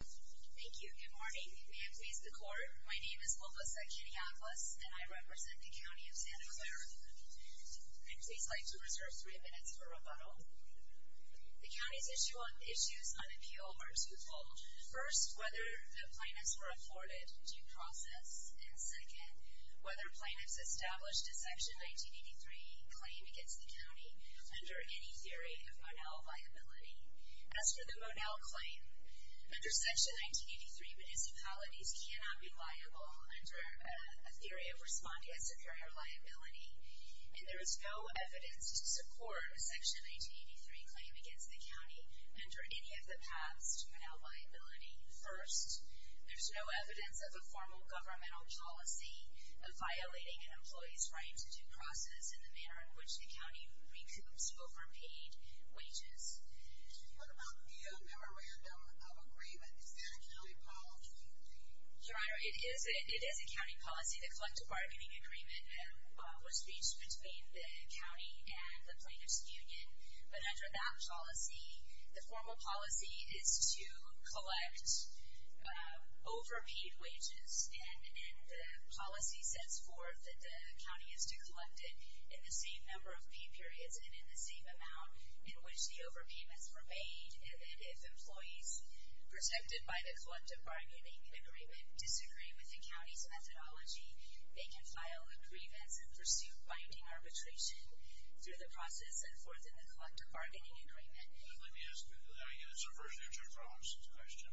Thank you. Good morning. May I please the court? My name is Lopez at Kitty Atlas, and I represent the County of Santa Clara. I'd please like to reserve three minutes for rebuttal. The county's issues on appeal are twofold. First, whether the plaintiffs were afforded due process. And second, whether plaintiffs established a Section 1983 claim against the county under any theory of Monell viability. As for the Monell claim, under Section 1983, municipalities cannot be liable under a theory of respondeo superior liability. And there is no evidence to support a Section 1983 claim against the county under any of the paths to Monell viability. First, there's no evidence of a formal governmental policy of violating an employee's right to due process in the manner in which the county recoups overpaid wages. What about the memorandum of agreement? Is that a county policy? Your Honor, it is a county policy. The collective bargaining agreement was reached between the county and the Plaintiffs' Union. But under that policy, the formal policy is to collect overpaid wages. And the policy sets forth that the county is to collect it in the same number of pay periods and in the same amount in which the overpayments were made. And if employees protected by the collective bargaining agreement disagree with the county's methodology, they can file a grievance and pursue binding arbitration through the process and forth in the collective bargaining agreement. Let me ask you a question.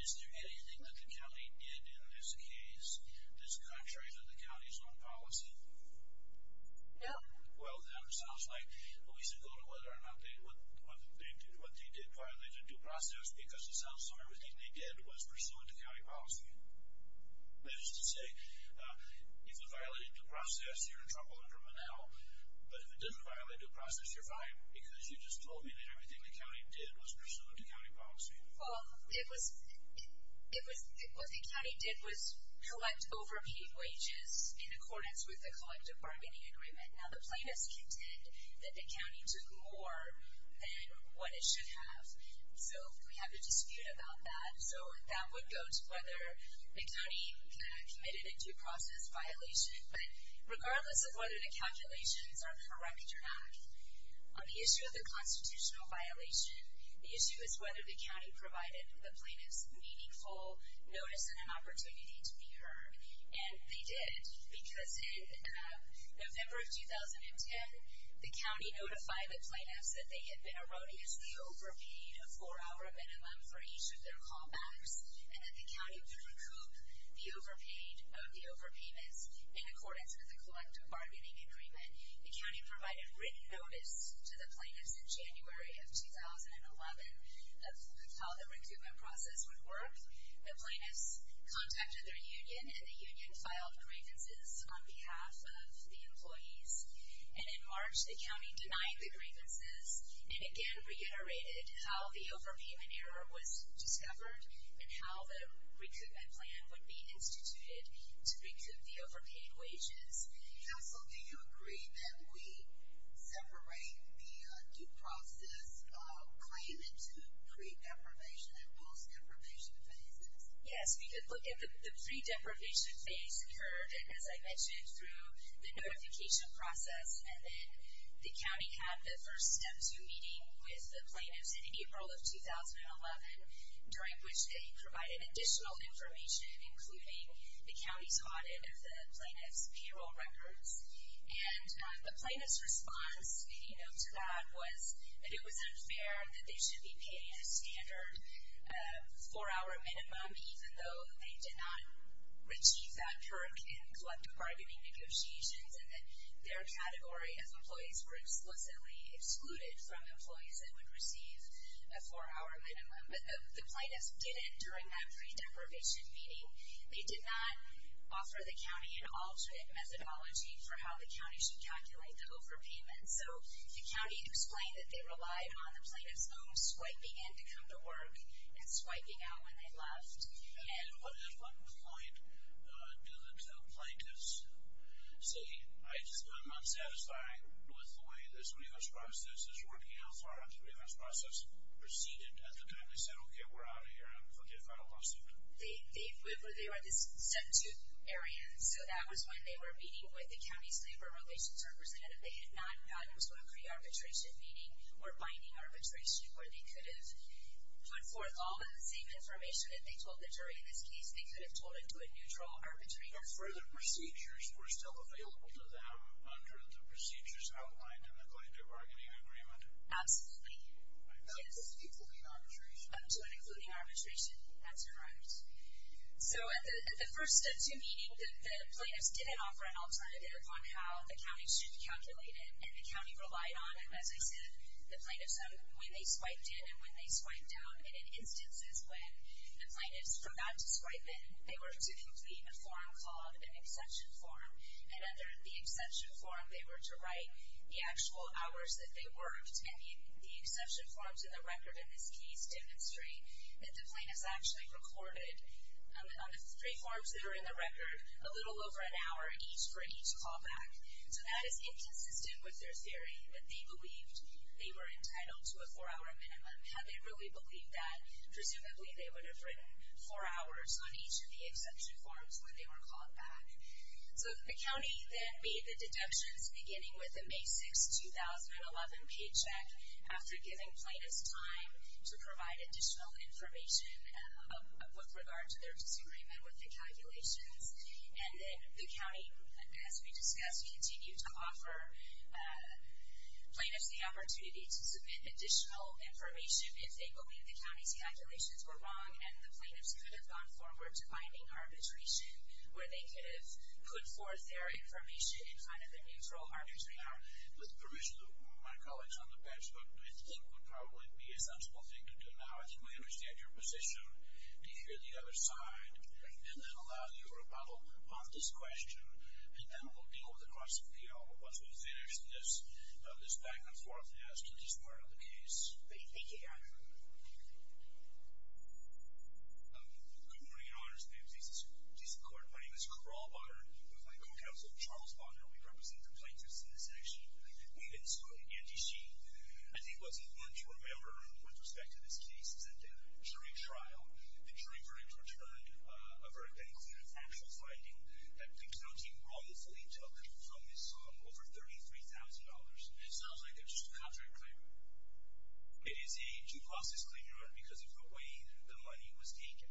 Is there anything that the county did in this case that's contrary to the county's own policy? No. Well, then it sounds like we should go to whether or not what they did violate a due process because it sounds like everything they did was pursuant to county policy. That is to say, if it violated due process, you're in trouble under Monell. But if it didn't violate due process, you're fine because you just told me that everything the county did was pursuant to county policy. Well, what the county did was collect overpaid wages in accordance with the collective bargaining agreement. Now, the plaintiffs contend that the county took more than what it should have. So we have a dispute about that. So that would go to whether the county committed a due process violation. But regardless of whether the calculations are correct or not, on the issue of the constitutional violation, the issue is whether the county provided the plaintiffs meaningful notice and an opportunity to be heard. And they did because in November of 2010, the county notified the plaintiffs that they had been erroneously overpaid a four-hour minimum for each of their callbacks and that the county would recoup the overpaid of the overpayments in accordance with the collective bargaining agreement. The county provided written notice to the plaintiffs in January of 2011 of how the recoupment process would work. The plaintiffs contacted their union, and the union filed grievances on behalf of the employees. And in March, the county denied the grievances and again reiterated how the overpayment error was discovered. And how the recoupment plan would be instituted to recoup the overpaid wages. Counsel, do you agree that we separate the due process claim into pre-deprivation and post-deprivation phases? Yes, we did look at the pre-deprivation phase. We heard, as I mentioned, through the notification process. And then the county had the first step-through meeting with the plaintiffs in April of 2011. During which they provided additional information, including the county's audit of the plaintiff's payroll records. And the plaintiff's response to that was that it was unfair that they should be paying a standard four-hour minimum. Even though they did not achieve that permit in collective bargaining negotiations. And that their category of employees were explicitly excluded from employees that would receive a four-hour minimum. But the plaintiffs didn't during that pre-deprivation meeting. They did not offer the county an alternate methodology for how the county should calculate the overpayment. So the county explained that they relied on the plaintiff's home swiping in to come to work. And swiping out when they left. And at what point did the plaintiffs say, I just am not satisfied with the way this revenge process is working. How far has the revenge process proceeded at the time they said, okay, we're out of here and we'll get a final lawsuit? They were at this step-through area. And so that was when they were meeting with the county's labor relations representative. They had not gone to a pre-arbitration meeting or binding arbitration. Where they could have put forth all of the same information that they told the jury in this case. They could have told it to a neutral arbitrator. Or further procedures were still available to them under the procedures outlined in the collective bargaining agreement. Absolutely. Up to and including arbitration. Up to and including arbitration. That's correct. So at the first step-through meeting, the plaintiffs didn't offer an alternative on how the county should calculate it. And the county relied on, as I said, the plaintiffs when they swiped in and when they swiped out. And in instances when the plaintiffs forgot to swipe in, they were to complete a form called an exception form. And under the exception form, they were to write the actual hours that they worked. And the exception forms in the record in this case demonstrate that the plaintiffs actually recorded, on the three forms that are in the record, a little over an hour each for each callback. So that is inconsistent with their theory that they believed they were entitled to a four-hour minimum. Had they really believed that, presumably they would have written four hours on each of the exception forms when they were called back. So the county then made the deductions, beginning with a May 6, 2011 paycheck, after giving plaintiffs time to provide additional information with regard to their disagreement with the calculations. And then the county, as we discussed, continued to offer plaintiffs the opportunity to submit additional information if they believed the county's calculations were wrong and the plaintiffs could have gone forward to binding arbitration, where they could have put forth their information in kind of a neutral arbitration. With the permission of my colleagues on the bench, what I think would probably be a sensible thing to do now, is that you may understand your position, be here on the other side, and then allow your rebuttal on this question. And then we'll deal with the cross-appeal once we've finished this back-and-forth task in this part of the case. Thank you, Your Honor. Good morning, Your Honor. My name is Jason Clark. My name is Carl Bonner. I'm with my co-counsel, Charles Bonner. We represent the plaintiffs in this action. We've been suing NTC. I think what's important to remember with respect to this case is that during the trial, the jury verdicts returned a very conclusive actual finding that the penalty wrongfully took from this sum over $33,000. It sounds like it was just a contract claim. It is a due process claim, Your Honor, because of the way the money was taken.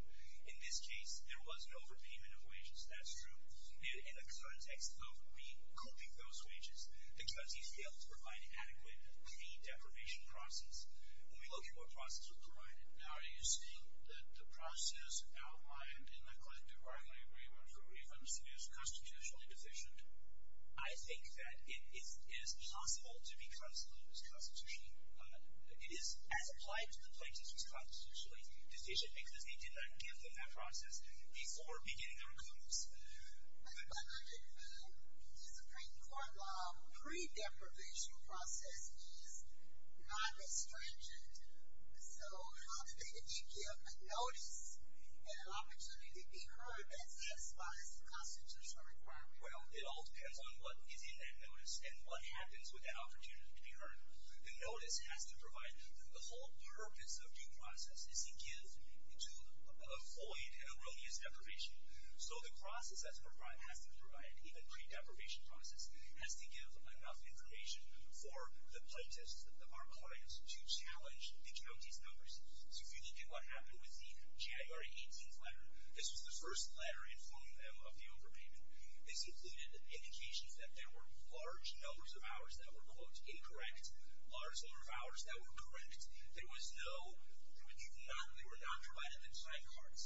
In this case, there was an overpayment of wages, that's true. In the context of recouping those wages, the judge failed to provide an adequate pre-deprivation process. When we look at what process was provided, now are you saying that the process outlined in the collective bargaining agreement for revenge is constitutionally deficient? I think that it is possible to be considered as constitutionally deficient because they did not give them that process before beginning their recoups. But Your Honor, the discipline court law pre-deprivation process is not restringent, so how do they then give a notice and an opportunity to be heard that satisfies the constitutional requirement? Well, it all depends on what is in that notice and what happens with that opportunity to be heard. The notice has to provide the whole purpose of due process. It's to give to avoid erroneous deprivation. So the process that's provided has to provide, even pre-deprivation process, has to give enough information for the plaintiffs that are clients to challenge the GOT's numbers. So if you look at what happened with the January 18th letter, this was the first letter informing them of the overpayment. This included indications that there were large numbers of hours that were, quote, incorrect, large number of hours that were correct. There was no, there were none, they were not provided with side cards.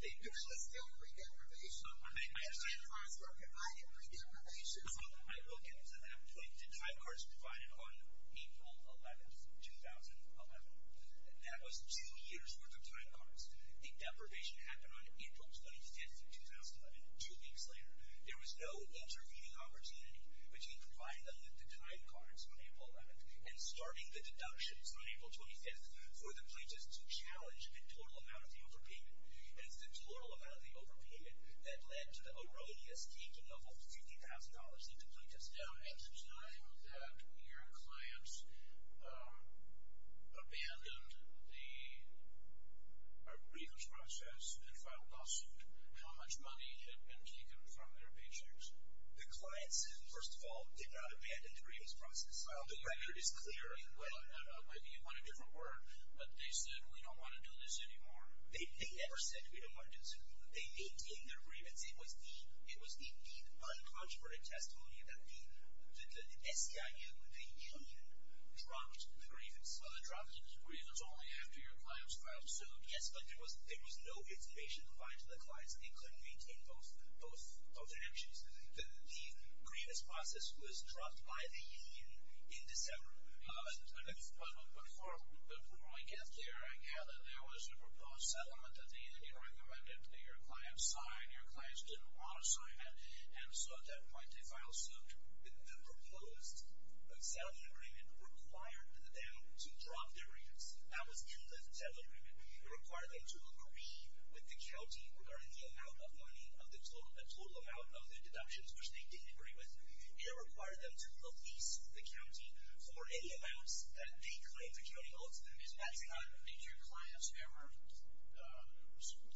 There was still pre-deprivation. The side cards were provided pre-deprivation. I will get to that point. The side cards were provided on April 11th, 2011. That was two years' worth of side cards. The deprivation happened on April 25th of 2011, two weeks later. There was no intervening opportunity between providing them with the side cards on April 11th and starting the deductions on April 25th for the plaintiffs to challenge the total amount of the overpayment. It's the total amount of the overpayment that led to the erroneous keeping of over $50,000 into plaintiffs' accounts. Now at the time that your clients abandoned the grievance process and filed lawsuit, how much money had been taken from their paychecks? The clients, first of all, did not abandon the grievance process. The record is clear. Well, maybe you want a different word, but they said, we don't want to do this anymore. They never said, we don't want to do this anymore. They maintained their grievance. It was the uncontroverted testimony that the SCIU, the union, dropped the grievance. Well, they dropped the grievance only after your clients filed suit. Yes, but there was no intimation provided to the clients. They couldn't maintain both their actions. The grievance process was dropped by the union in December. But before I get there, I gather there was a proposed settlement that the union recommended that your clients sign. Your clients didn't want to sign that, and so at that point they filed suit. The proposed settlement agreement required them to drop their grievance. That was truly a settlement agreement. It required them to agree with the county regarding the amount of money, the total amount of the deductions, which they didn't agree with. It required them to release the county for any amounts that they claimed the county owed to them. Is that true? Did your clients ever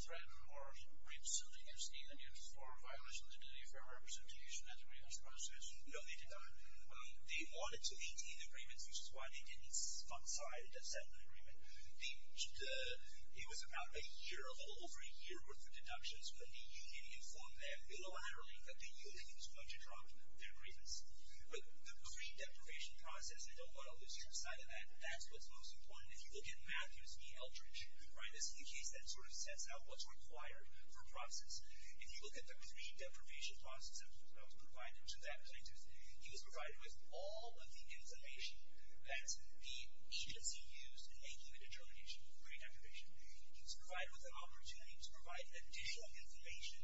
threaten or reach suit against the union for violation of their duty of fair representation at the grievance process? No, they did not. They wanted to maintain the agreement, which is why they didn't sign the settlement agreement. It was about a year, a little over a year worth of deductions, but the union informed them illiterately that the union was going to drop their grievance. But the free deprivation process, they don't want to lose your side of that. That's what's most important. If you look at Matthews v. Eldridge, right, this is the case that sort of sets out what's required for a process. If you look at the free deprivation process that was provided to that plaintiff, he was provided with all of the information that the agency used in making the determination for free deprivation. He was provided with an opportunity to provide additional information,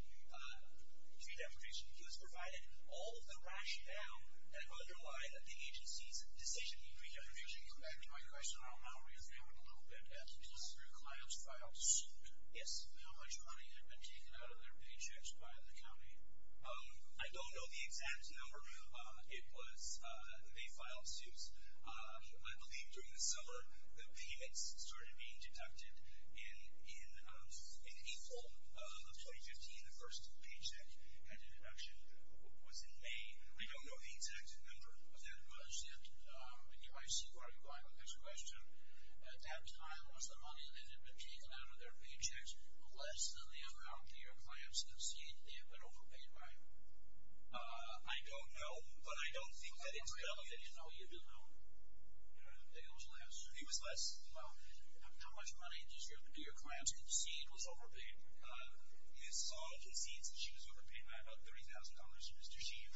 free deprivation. He was provided all of the rationale that would underlie the agency's decision. Free deprivation. Correct me if I'm wrong. How real is that with a little bit of business? Did your clients file suit? Yes. How much money had been taken out of their paychecks by the county? I don't know the exact number. It was they filed suits. I believe during the summer the payments started being deducted. In April of 2015, the first paycheck deduction was in May. I don't know the exact number. That was it. I see where you're going with this question. At that time, was the money that had been taken out of their paychecks less than the amount that your clients have seen that they had been overpaid by? I don't know, but I don't think that it's relevant. No, you don't know. It was less. It was less. How much money did your clients concede was overpaid? Ms. Song concedes that she was overpaid by about $30,000 to Mr. Sheehan.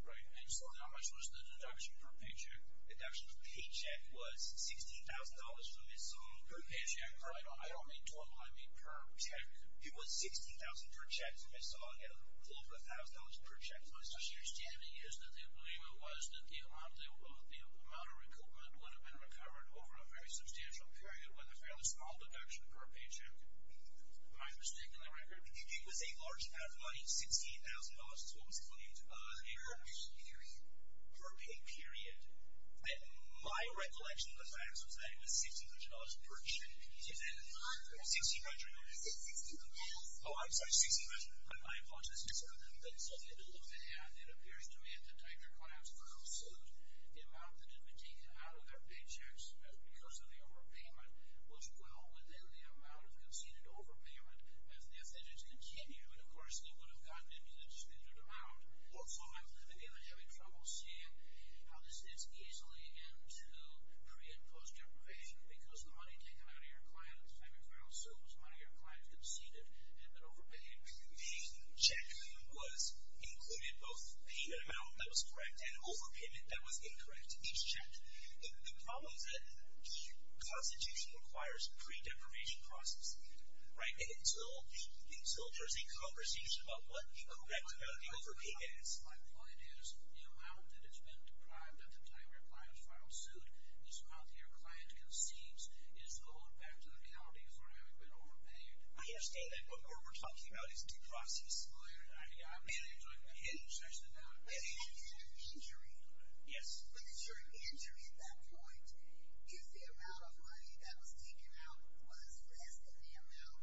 Right. And so how much was the deduction per paycheck? The deduction per paycheck was $16,000 for Ms. Song. Per paycheck. I don't mean total. I mean per check. It was $16,000 per check for Ms. Song and a little over $1,000 per check for Mr. Sheehan. My understanding is that they believe it was that the amount of recoupment would have been recovered over a very substantial period with a fairly small deduction per paycheck. Am I mistaken in the record? It was a large amount of money, $16,000, is what was claimed. Per pay period. Per pay period. My recollection of the facts was that it was $16,000 per check. $16,000? $16,000. Oh, I'm sorry. $16,000. My apologies. But it's something to look at. It appears to me that the type of clients that conclude the amount that had been taken out of their paychecks because of the overpayment was well within the amount of conceded overpayment if they did continue. And, of course, they would have gotten into the discredited amount. Also, I'm living in a very troubled state. How does this easily end to pre- and post-deprivation because the money taken out of your client, I'm inquiring also, was money your client conceded and then overpaid? A check was included both payment amount that was correct and overpayment that was incorrect. Each check. The problem is that the Constitution requires a pre-deprivation process, right? Until there's a conversation about what incorrect or overpayment is. My point is the amount that has been deprived of the time your client filed suit is how your client concedes is owed back to the county for having been overpaid. I understand that. But what we're talking about is due process. I mean, I'm mainly talking about interest. But is there an injury? Yes. But is there an injury at that point? If the amount of money that was taken out was less than the amount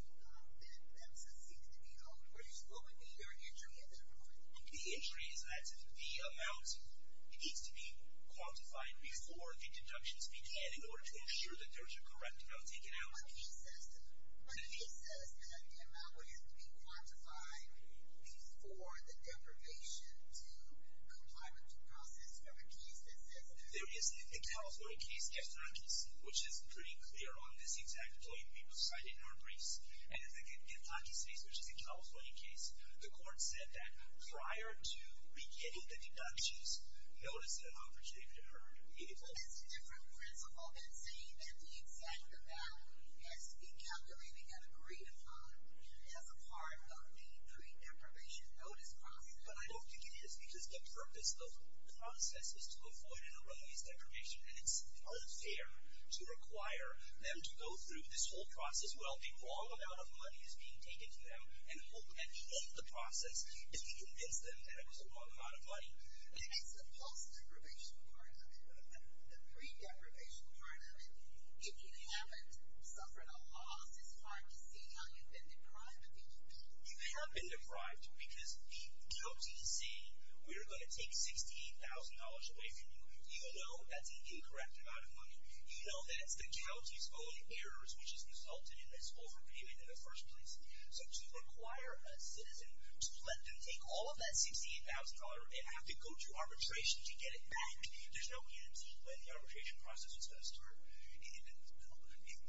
that succeeded to be owed, what would be your injury at that point? The injury is that the amount needs to be quantified before the deductions began in order to assure that there's a correct amount taken out. But the case says that the amount would have to be quantified before the deprivation to comply with due process for a case that says that. There is a California case, Efthanakis, which is pretty clear on this exact point we've cited in our briefs. And in the Efthanakis case, which is a California case, the court said that prior to beginning the deductions, notice that opportunity occurred immediately. That's a different principle than saying that the exact amount has been calculated and agreed upon as a part of the pre-deprivation notice process. But I don't think it is because the purpose of the process is to avoid and release deprivation. And it's unfair to require them to go through this whole process while a long amount of money is being taken from them and hold the process to convince them that it was a long amount of money. As the post-deprivation part of it, the pre-deprivation part of it, if you haven't suffered a loss, it's hard to see how you've been deprived of the opportunity. You have been deprived because the guilty is saying, we're going to take $68,000 away from you. You know that's incorrect amount of money. You know that's the guilty's own errors which has resulted in this overpayment in the first place. So to require a citizen to let them take all of that $68,000 and have to go through arbitration to get it back, there's no guarantee that the arbitration process is going to start.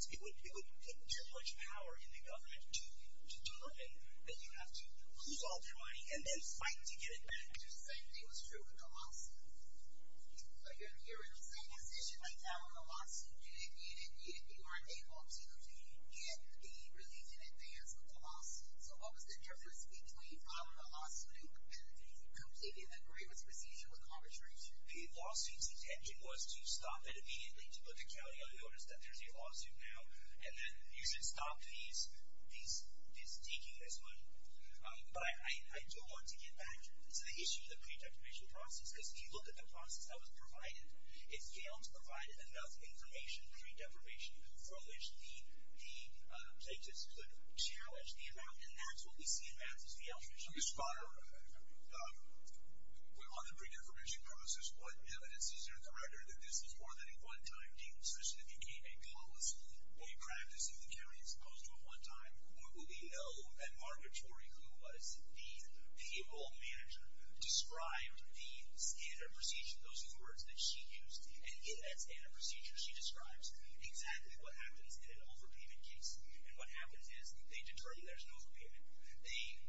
It would take too much power in the government to deliver that you have to lose all of your money and then fight to get it back. The same thing was true with the lawsuit. You're in the same position right now in the lawsuit. And if you didn't get it, you weren't able to get the relief in advance of the lawsuit. So what was the difference between filing a lawsuit and completing the grievance procedure with arbitration? The lawsuit's intention was to stop it immediately, to put the county on notice that there's a lawsuit now, and then you should stop this deque, this one. But I do want to get back to the issue of the pre-deprivation process because if you look at the process that was provided, if Gale's provided enough information, pre-deprivation, for which the plaintiffs could challenge the amount, and that's what we see in math as the alteration. So you spot, on the pre-deprivation process, what evidence is there in the record that this was more than a one-time deque, such that it became a policy, a practice in the county, as opposed to a one-time? Well, we know that Margaret Torrey, who was the payable manager, described the standard procedure, those words that she used, and in that standard procedure she describes exactly what happens in an overpayment case. And what happens is they determine there's no overpayment. They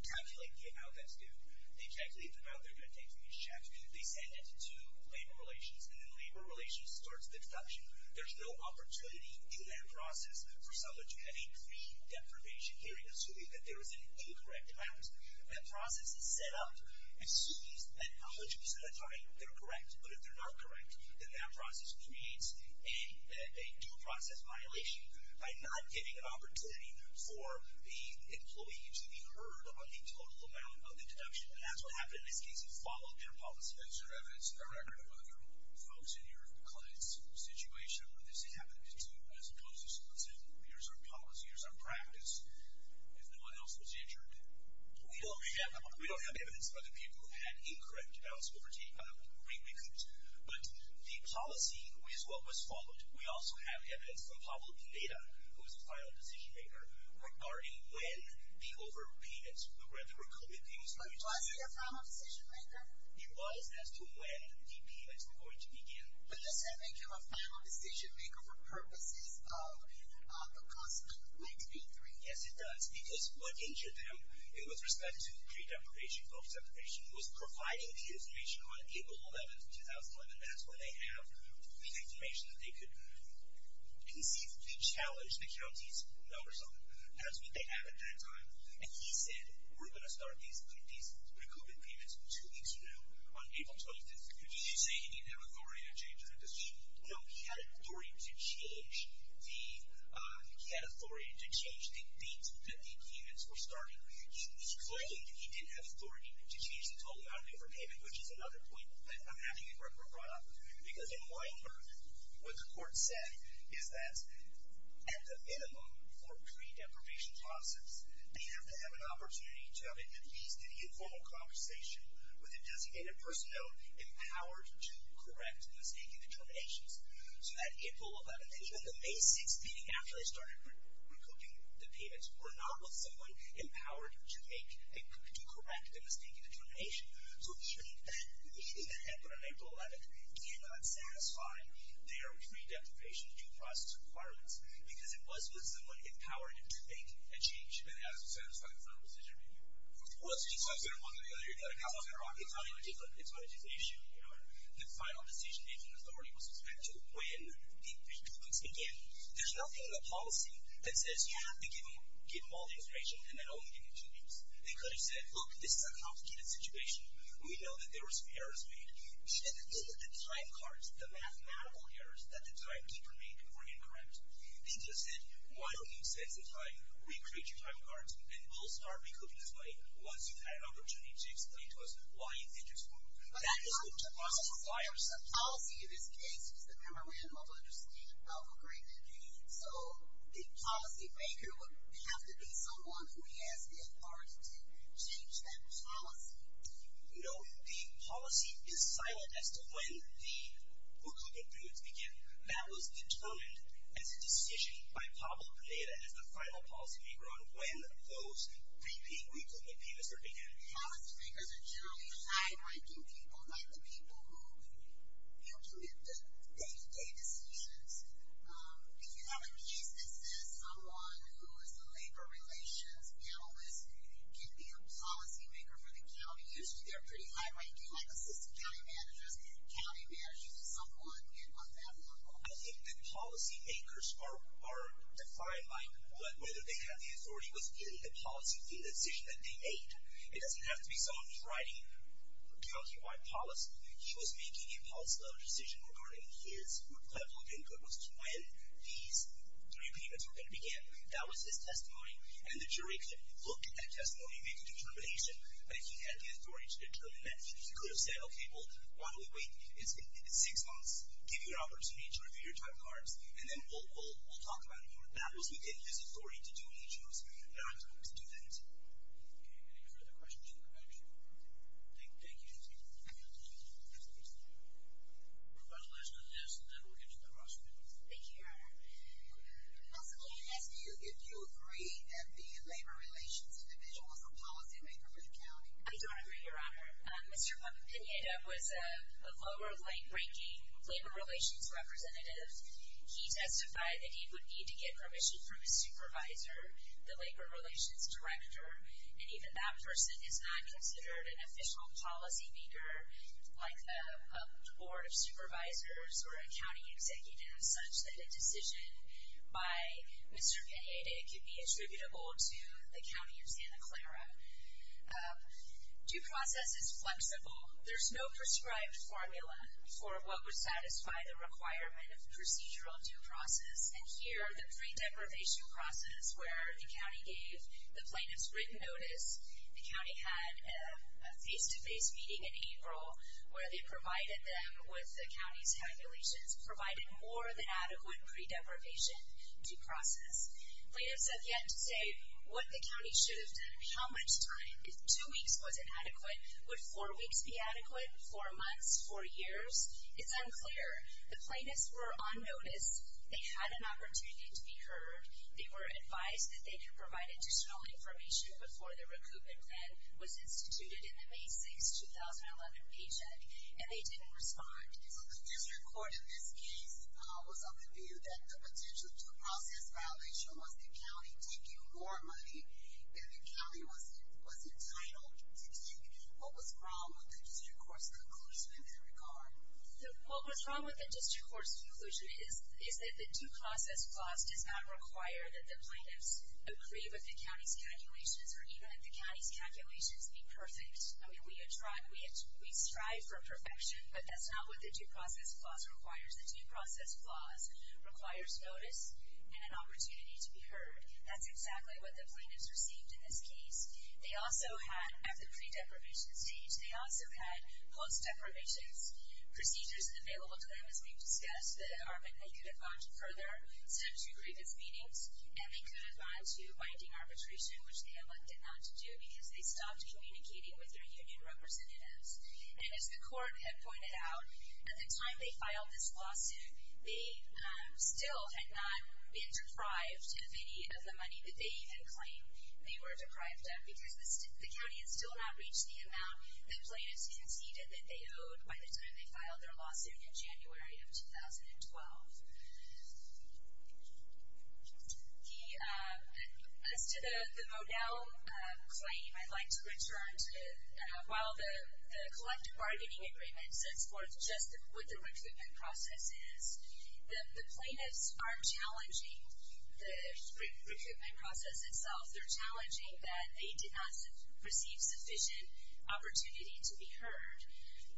calculate the amount that's due. They calculate the amount they're going to take from each check. They send it to labor relations, and then labor relations starts the deduction. There's no opportunity in that process for someone to have a pre-deprivation hearing assuming that there was an incorrect amount. That process is set up assuming that a hundred percent of the time they're correct. But if they're not correct, then that process creates a due process violation by not giving an opportunity for the employee to be heard on the total amount of the deduction. And that's what happened in this case. We followed their policy. Is there evidence in the record of other folks in your client's situation where this happened, too, as opposed to someone saying, here's our policy, here's our practice, if no one else was injured? We don't have evidence of other people who had incorrect balance of overtake, other great recruits. But the policy is what was followed. We also have evidence from Pablo Pineda, who was the final decision-maker, regarding when the overpayments, when the recruitment payments were due. Was he a final decision-maker? He was, as to when the payments were going to begin. But does that make him a final decision-maker for purposes of the cost of an XB-3? Yes, it does. Because what injured them, with respect to pre-deprivation, post-deprivation, was providing the information on April 11, 2011. That's when they have the information that they could conceive to challenge the county's numbers on it. That's what they have at that time. And he said, we're going to start these recruitment payments two weeks from now on April 12th. Did he say he didn't have authority to change that decision? No, he had authority to change the date that the payments were starting. Clearly, he didn't have authority to change the total amount of overpayment, which is another point that I'm having at record brought up. Because in Weingarten, what the court said is that, at the minimum for pre-deprivation process, they have to have an opportunity to have at least an informal conversation with a designated personnel empowered to correct the mistaken determinations. So that April 11th, even the May 6th meeting, after they started recruiting the payments, were not with someone empowered to correct the mistaken determination. So he shouldn't have, on April 11th, cannot satisfy their pre-deprivation due process requirements, because it was with someone empowered to make a change. And that's what satisfied the final decision review? Well, it's not a different issue. The final decision-making authority was expected to when the recruitments began. There's nothing in the policy that says you have to give them all the information and then only give them two weeks. They could have said, look, this is a complicated situation. We know that there were some errors made. The time cards, the mathematical errors that the timekeeper made were incorrect. They just said, why don't you set the time, recreate your time cards, and we'll start recouping this money once you've had opportunity to explain to us why you did this wrong. But that's not the policy. There's a policy in this case. It's the Memorandum of Understanding of Agreement. So the policymaker would have to be someone who has the authority to change that policy. No, the policy is silent as to when the recruitment periods begin. That was determined as a decision by Pablo Pineda as the final policymaker on when those pre-pre-recruitment periods were began. Policymakers are generally high-ranking people, like the people who implement day-to-day decisions. If you have a case that says someone who is a labor relations analyst can be a policymaker for the county, usually they're pretty high-ranking, like assistant county managers, county managers, someone on that level. I think that policymakers are defined by whether they have the authority with the policy of the decision that they made. It doesn't have to be someone who's writing county-wide policy. He was making a policy-level decision regarding his group level income. It was when these three payments were going to begin. That was his testimony. And the jury could look at that testimony and make a determination, but he had the authority to determine that. He could have said, okay, well, why don't we wait six months, give you an opportunity to review your time cards, and then we'll talk about it more. That was within his authority to do what he chose. Do you have any further questions? Thank you. We'll go to the last of the guests, and then we'll get to the rest of you. Thank you, Your Honor. Also, can I ask you if you agree that the labor relations individual was a policymaker for the county? I do agree, Your Honor. Mr. Pineda was a lower-ranking labor relations representative. He testified that he would need to get permission from his supervisor, the labor relations director, and even that person is not considered an official policymaker, like a board of supervisors or a county executive, such that a decision by Mr. Pineda could be attributable to the county of Santa Clara. Due process is flexible. There's no prescribed formula for what would satisfy the requirement of procedural due process, and here the pre-deprivation process where the county gave the plaintiffs written notice. The county had a face-to-face meeting in April where they provided them with the county's calculations, provided more than adequate pre-deprivation due process. Plaintiffs have yet to say what the county should have done, how much time. If two weeks wasn't adequate, would four weeks be adequate? Four months? Four years? It's unclear. The plaintiffs were on notice. They had an opportunity to be heard. They were advised that they could provide additional information before the recoupment plan was instituted in the May 6, 2011 paycheck, and they didn't respond. So the district court in this case was of the view that the potential due process violation was the county taking more money than the county was entitled to take. What was wrong with the district court's conclusion in that regard? What was wrong with the district court's conclusion is that the due process clause does not require that the plaintiffs agree with the county's calculations or even if the county's calculations be perfect. I mean, we strive for perfection, but that's not what the due process clause requires. The due process clause requires notice and an opportunity to be heard. That's exactly what the plaintiffs received in this case. They also had, at the pre-deprivation stage, they also had post-deprivation procedures available to them, as we've discussed. They could have gone to further century-old meetings, and they could have gone to binding arbitration, which they elected not to do because they stopped communicating with their union representatives. And as the court had pointed out, at the time they filed this lawsuit, they still had not been deprived of any of the money that they even claimed they were deprived of because the county had still not reached the amount that the plaintiffs conceded that they owed by the time they filed their lawsuit in January of 2012. As to the Modell claim, I'd like to return to while the collective bargaining agreement sets forth just what the recruitment process is, the plaintiffs are challenging the recruitment process itself. They're challenging that they did not receive sufficient opportunity to be heard.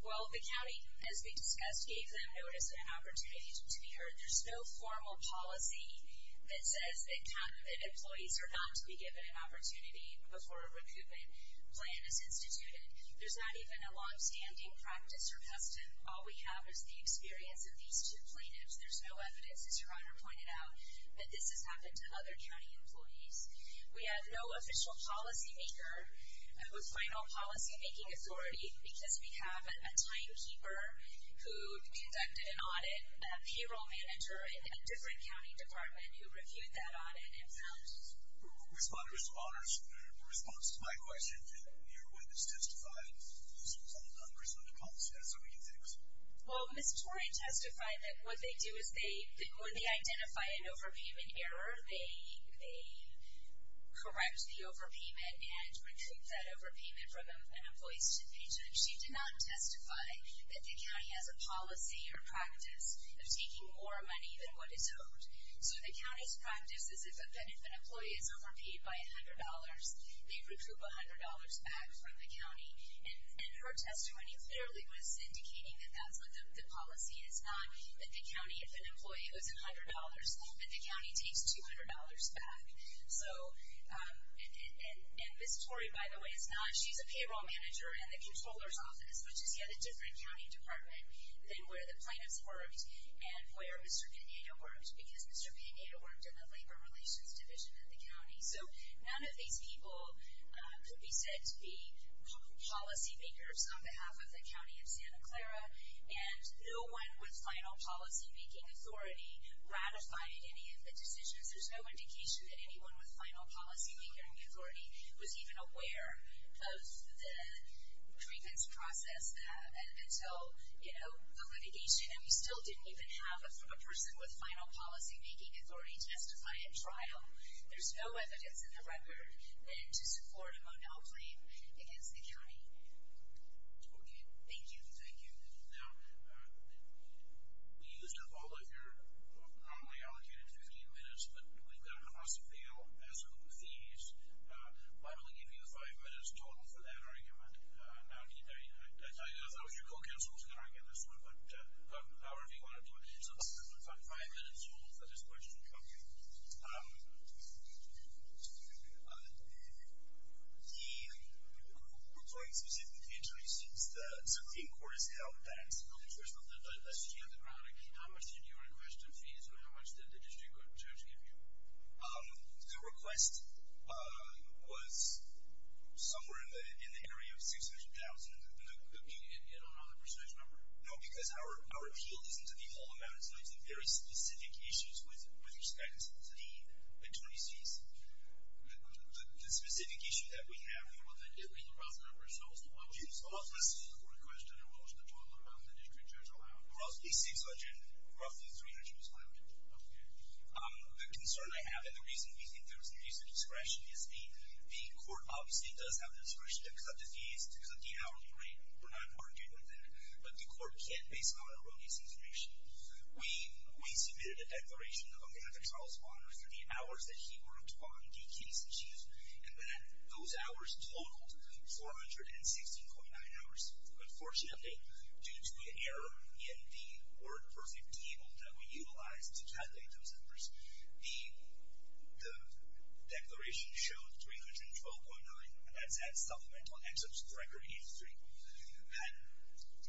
Well, the county, as we discussed, gave them notice of an opportunity to be heard. There's no formal policy that says that counterfeit employees are not to be given an opportunity before a recruitment plan is instituted. There's not even a longstanding practice or custom. All we have is the experience of these two plaintiffs. There's no evidence, as your Honor pointed out, that this has happened to other county employees. We have no official policymaker with final policymaking authority because we have a timekeeper who conducted an audit, a payroll manager in a different county department who reviewed that audit himself. Respond, Mr. Bonner. In response to my question, did your witness testify in some numbers of the consequences of these things? Well, Ms. Torian testified that what they do is when they identify an overpayment error, they correct the overpayment and recoup that overpayment from an employee's stipend. She did not testify that the county has a policy or practice of taking more money than what is owed. So the county's practice is that if an employee is overpaid by $100, they recoup $100 back from the county. And her testimony clearly was indicating that that's what the policy is not, that the county, if an employee owes $100, that the county takes $200 back. And Ms. Torian, by the way, is not. She's a payroll manager in the comptroller's office, which is yet a different county department than where the plaintiffs worked and where Mr. Pineda worked because Mr. Pineda worked in the labor relations division of the county. So none of these people could be said to be policymakers on behalf of the county of Santa Clara. And no one with final policymaking authority ratified any of the decisions. There's no indication that anyone with final policymaking authority was even aware of the grievance process until, you know, the litigation. And we still didn't even have from a person with final policymaking authority testify at trial. There's no evidence in the record then to support a Monell claim against the county. Okay. Thank you. Thank you. Now, we used up all of your normally allocated 15 minutes, but we've got enough to fail. So with these, I'm going to give you five minutes total for that argument. Now, I tell you, I thought it was your co-counsel was going to argue this one, but however you want to do it. So this is about five minutes total for this question. Okay. Thank you. We're going specifically to you since the Supreme Court has held that. First of all, let's just get the product. How much did you request in fees, or how much did the district judge give you? The request was somewhere in the area of $600,000. Okay. And I don't know the precise number. No, because our appeal isn't to the full amount. So it's a very specific issue with respect to the attorneys' fees. The specific issue that we have here, what was the total amount the district judge allowed? Roughly $300,000. Okay. The concern I have, and the reason we think there was an increase in discretion, is the court obviously does have discretion because of the fees, because of the hourly rate. We're not arguing that. But the court did, based on our release information, we submitted a declaration on behalf of Charles Bonner for the hours that he worked on the case issues. And those hours totaled 416.9 hours. Unfortunately, due to an error in the WordPerfect table that we utilized to calculate those numbers, the declaration showed 312.9, and that's at supplemental excerpts for Record 83. That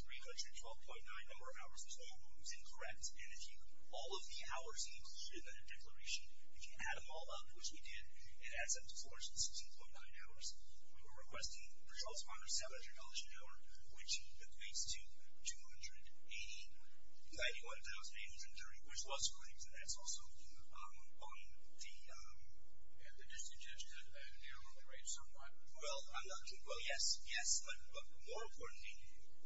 312.9 number of hours was wrong. It was incorrect. And if you look at all of the hours included in that declaration, if you add them all up, which we did, it adds up to 416.9 hours. We were requesting for Charles Bonner $700 an hour, which equates to $291,830, which was correct. And that's also on the district judge that narrowed the rate somewhat. Well, yes, yes, but more importantly,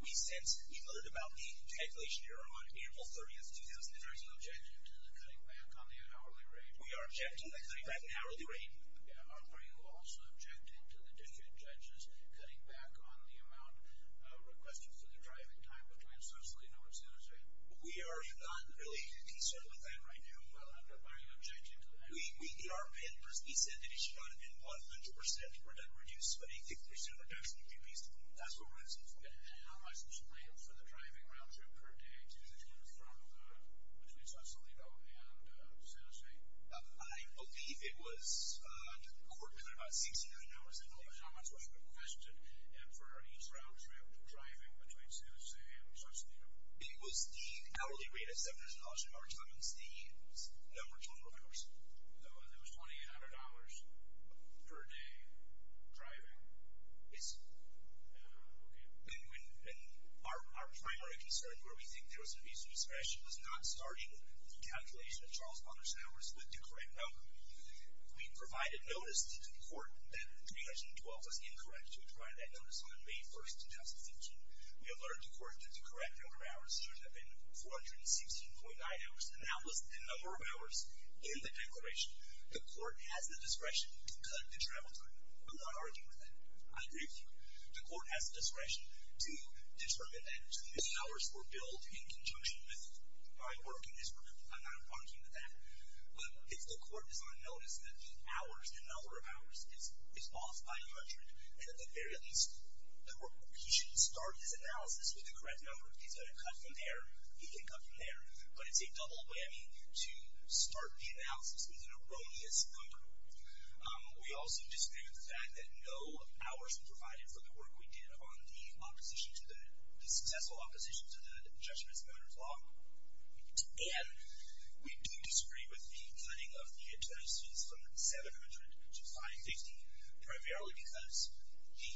we learned about the calculation error on April 30, 2013. Are you objecting to the cutting back on the hourly rate? We are objecting to the cutting back on the hourly rate. Are you also objecting to the district judges cutting back on the amount requested for the driving time between socially and overseas? We are not really concerned with that right now. Why are you objecting to that? He said that it should not have been 100% reduced, but a 50% reduction would be reasonable. That's what we're asking for. And how much was included for the driving round-trip per day to the districts from between Sausalito and San Jose? I believe it was, to the court, about $1,600 an hour. That's what I requested for each round-trip driving between Sausalito and Sausalito. It was the hourly rate of $700 an hour times the number of total hours. It was $2,800 per day driving? Yes. Okay. Our primary concern, where we think there was an issue of discretion, was not starting the calculation of Charles Bonner's hours with the correct number. We provided notice to the court that 2012 was incorrect. We provided that notice on May 1, 2015. We alerted the court that the correct number of hours should have been 416.9 hours, and that was the number of hours in the declaration. The court has the discretion to cut the travel time. I'm not arguing with that. I agree with you. The court has the discretion to determine that to me hours were billed in conjunction with my work in this program. I'm not arguing with that. But if the court does not notice that the number of hours is off by 100, then at the very least, he should start his analysis with the correct number. If he's going to cut from there, he can cut from there. But it's a double whammy to start the analysis with an erroneous number. We also disagree with the fact that no hours were provided for the work we did on the successful opposition to the Judgment of Bonner's Law. And we do disagree with the cutting of the expenses from 700 to 550, primarily because the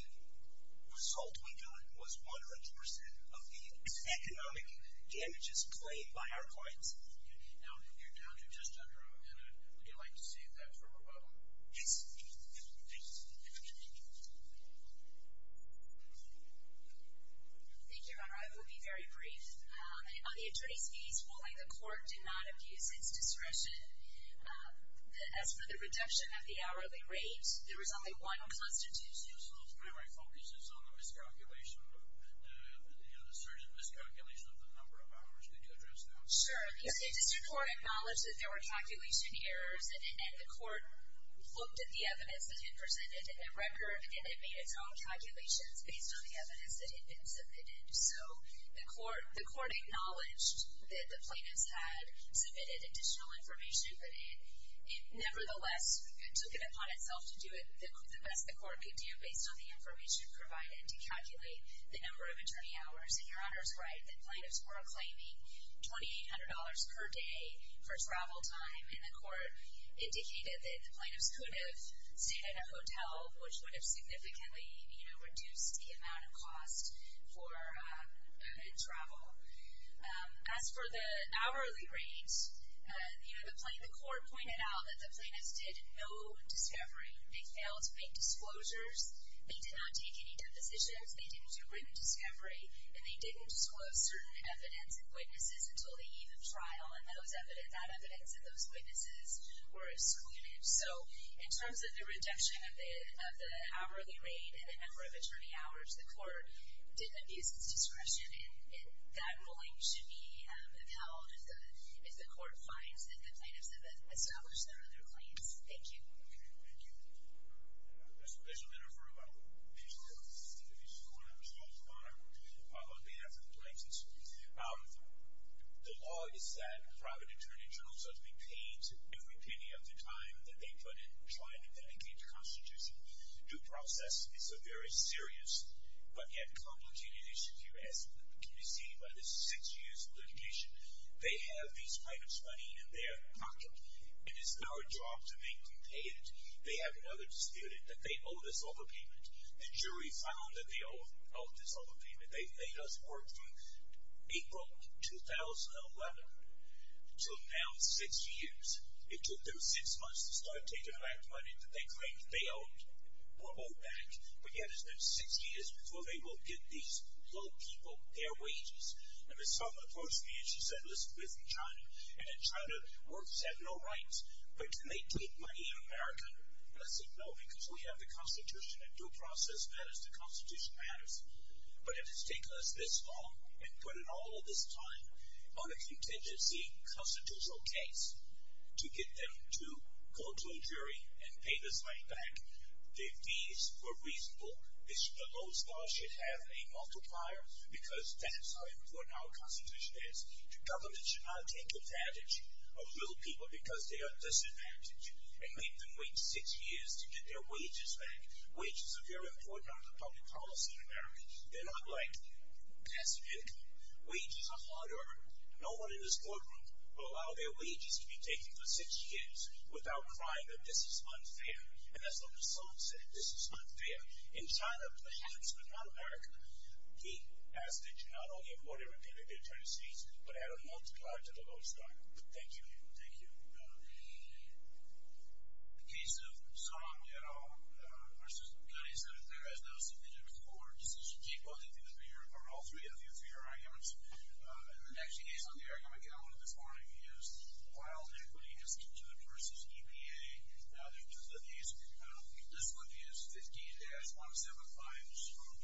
result we got was 100% of the economic damages played by our clients. Now, you're down to just under a minute. Would you like to save that for a moment? Yes. Thank you. Thank you, Your Honor. I will be very brief. On the attorney's case, while the court did not abuse its discretion, as for the reduction of the hourly rate, there was only one constitution. So my focus is on the miscalculation of the number of hours. Could you address that? Sure. The district court acknowledged that there were calculation errors, and the court looked at the evidence that had been presented in the record, and it made its own calculations based on the evidence that had been submitted. So the court acknowledged that the plaintiffs had submitted additional information, but it nevertheless took it upon itself to do the best the court could do based on the information provided to calculate the number of attorney hours. And Your Honor is right. The plaintiffs were acclaiming $2,800 per day for travel time, and the court indicated that the plaintiffs could have stayed in a hotel, which would have significantly reduced the amount of cost for travel. As for the hourly rate, the court pointed out that the plaintiffs did no discovery. They failed to make disclosures. They did not take any depositions. They didn't do written discovery, and they didn't disclose certain evidence and witnesses until the eve of trial, and that evidence and those witnesses were excluded. So in terms of the reduction of the hourly rate and the number of attorney hours, the court did abuse its discretion, and that ruling should be upheld if the court finds that the plaintiffs have established their claims. Thank you. Thank you. I have a special matter for you, Your Honor. If you could just speak a bit to what I was told, Your Honor, on behalf of the plaintiffs. The law is that private attorney jurors are to be paid every penny of the time that they put in trying to medicate the Constitution. Due process is a very serious but yet complicated issue. As can be seen by the six years of litigation, they have these plaintiffs' money in their pocket. It is our job to make them pay it. They have another disputant that they owe this overpayment. The jury found that they owe this overpayment. They let us work from April 2011 to now six years. It took them six months to start taking back money that they claimed they owed or owe back, but yet it's been six years before they will get these low people their wages. And Ms. Sullivan approached me and she said, listen, we're from China, and the Chinese have no rights, but can they take money in America? I said, no, because we have the Constitution. Due process matters. The Constitution matters. But it has taken us this long and put in all of this time on a contingency constitutional case to get them to go to a jury and pay this money back. The fees were reasonable. Those laws should have a multiplier because that's how important our Constitution is. Governments should not take advantage of ill people because they are disadvantaged and make them wait six years to get their wages back. Wages are very important under public policy in America. They're not like passive income. Wages are hard earned. No one in this courtroom will allow their wages to be taken for six years without crying that this is unfair. And that's what Ms. Sullivan said, this is unfair. In China, perhaps, but not America, he asked that China not only import everything that they're trying to seize, but add a multiplier to the low stock. Thank you. Thank you. The case of Song et al. v. Cunnington. There is no sufficient score. This is a cheap vote. All three of you for your arguments. And the next case on the argument, again, one of the foreign views, while equity is considered versus EPA, this would be a 15-175 score.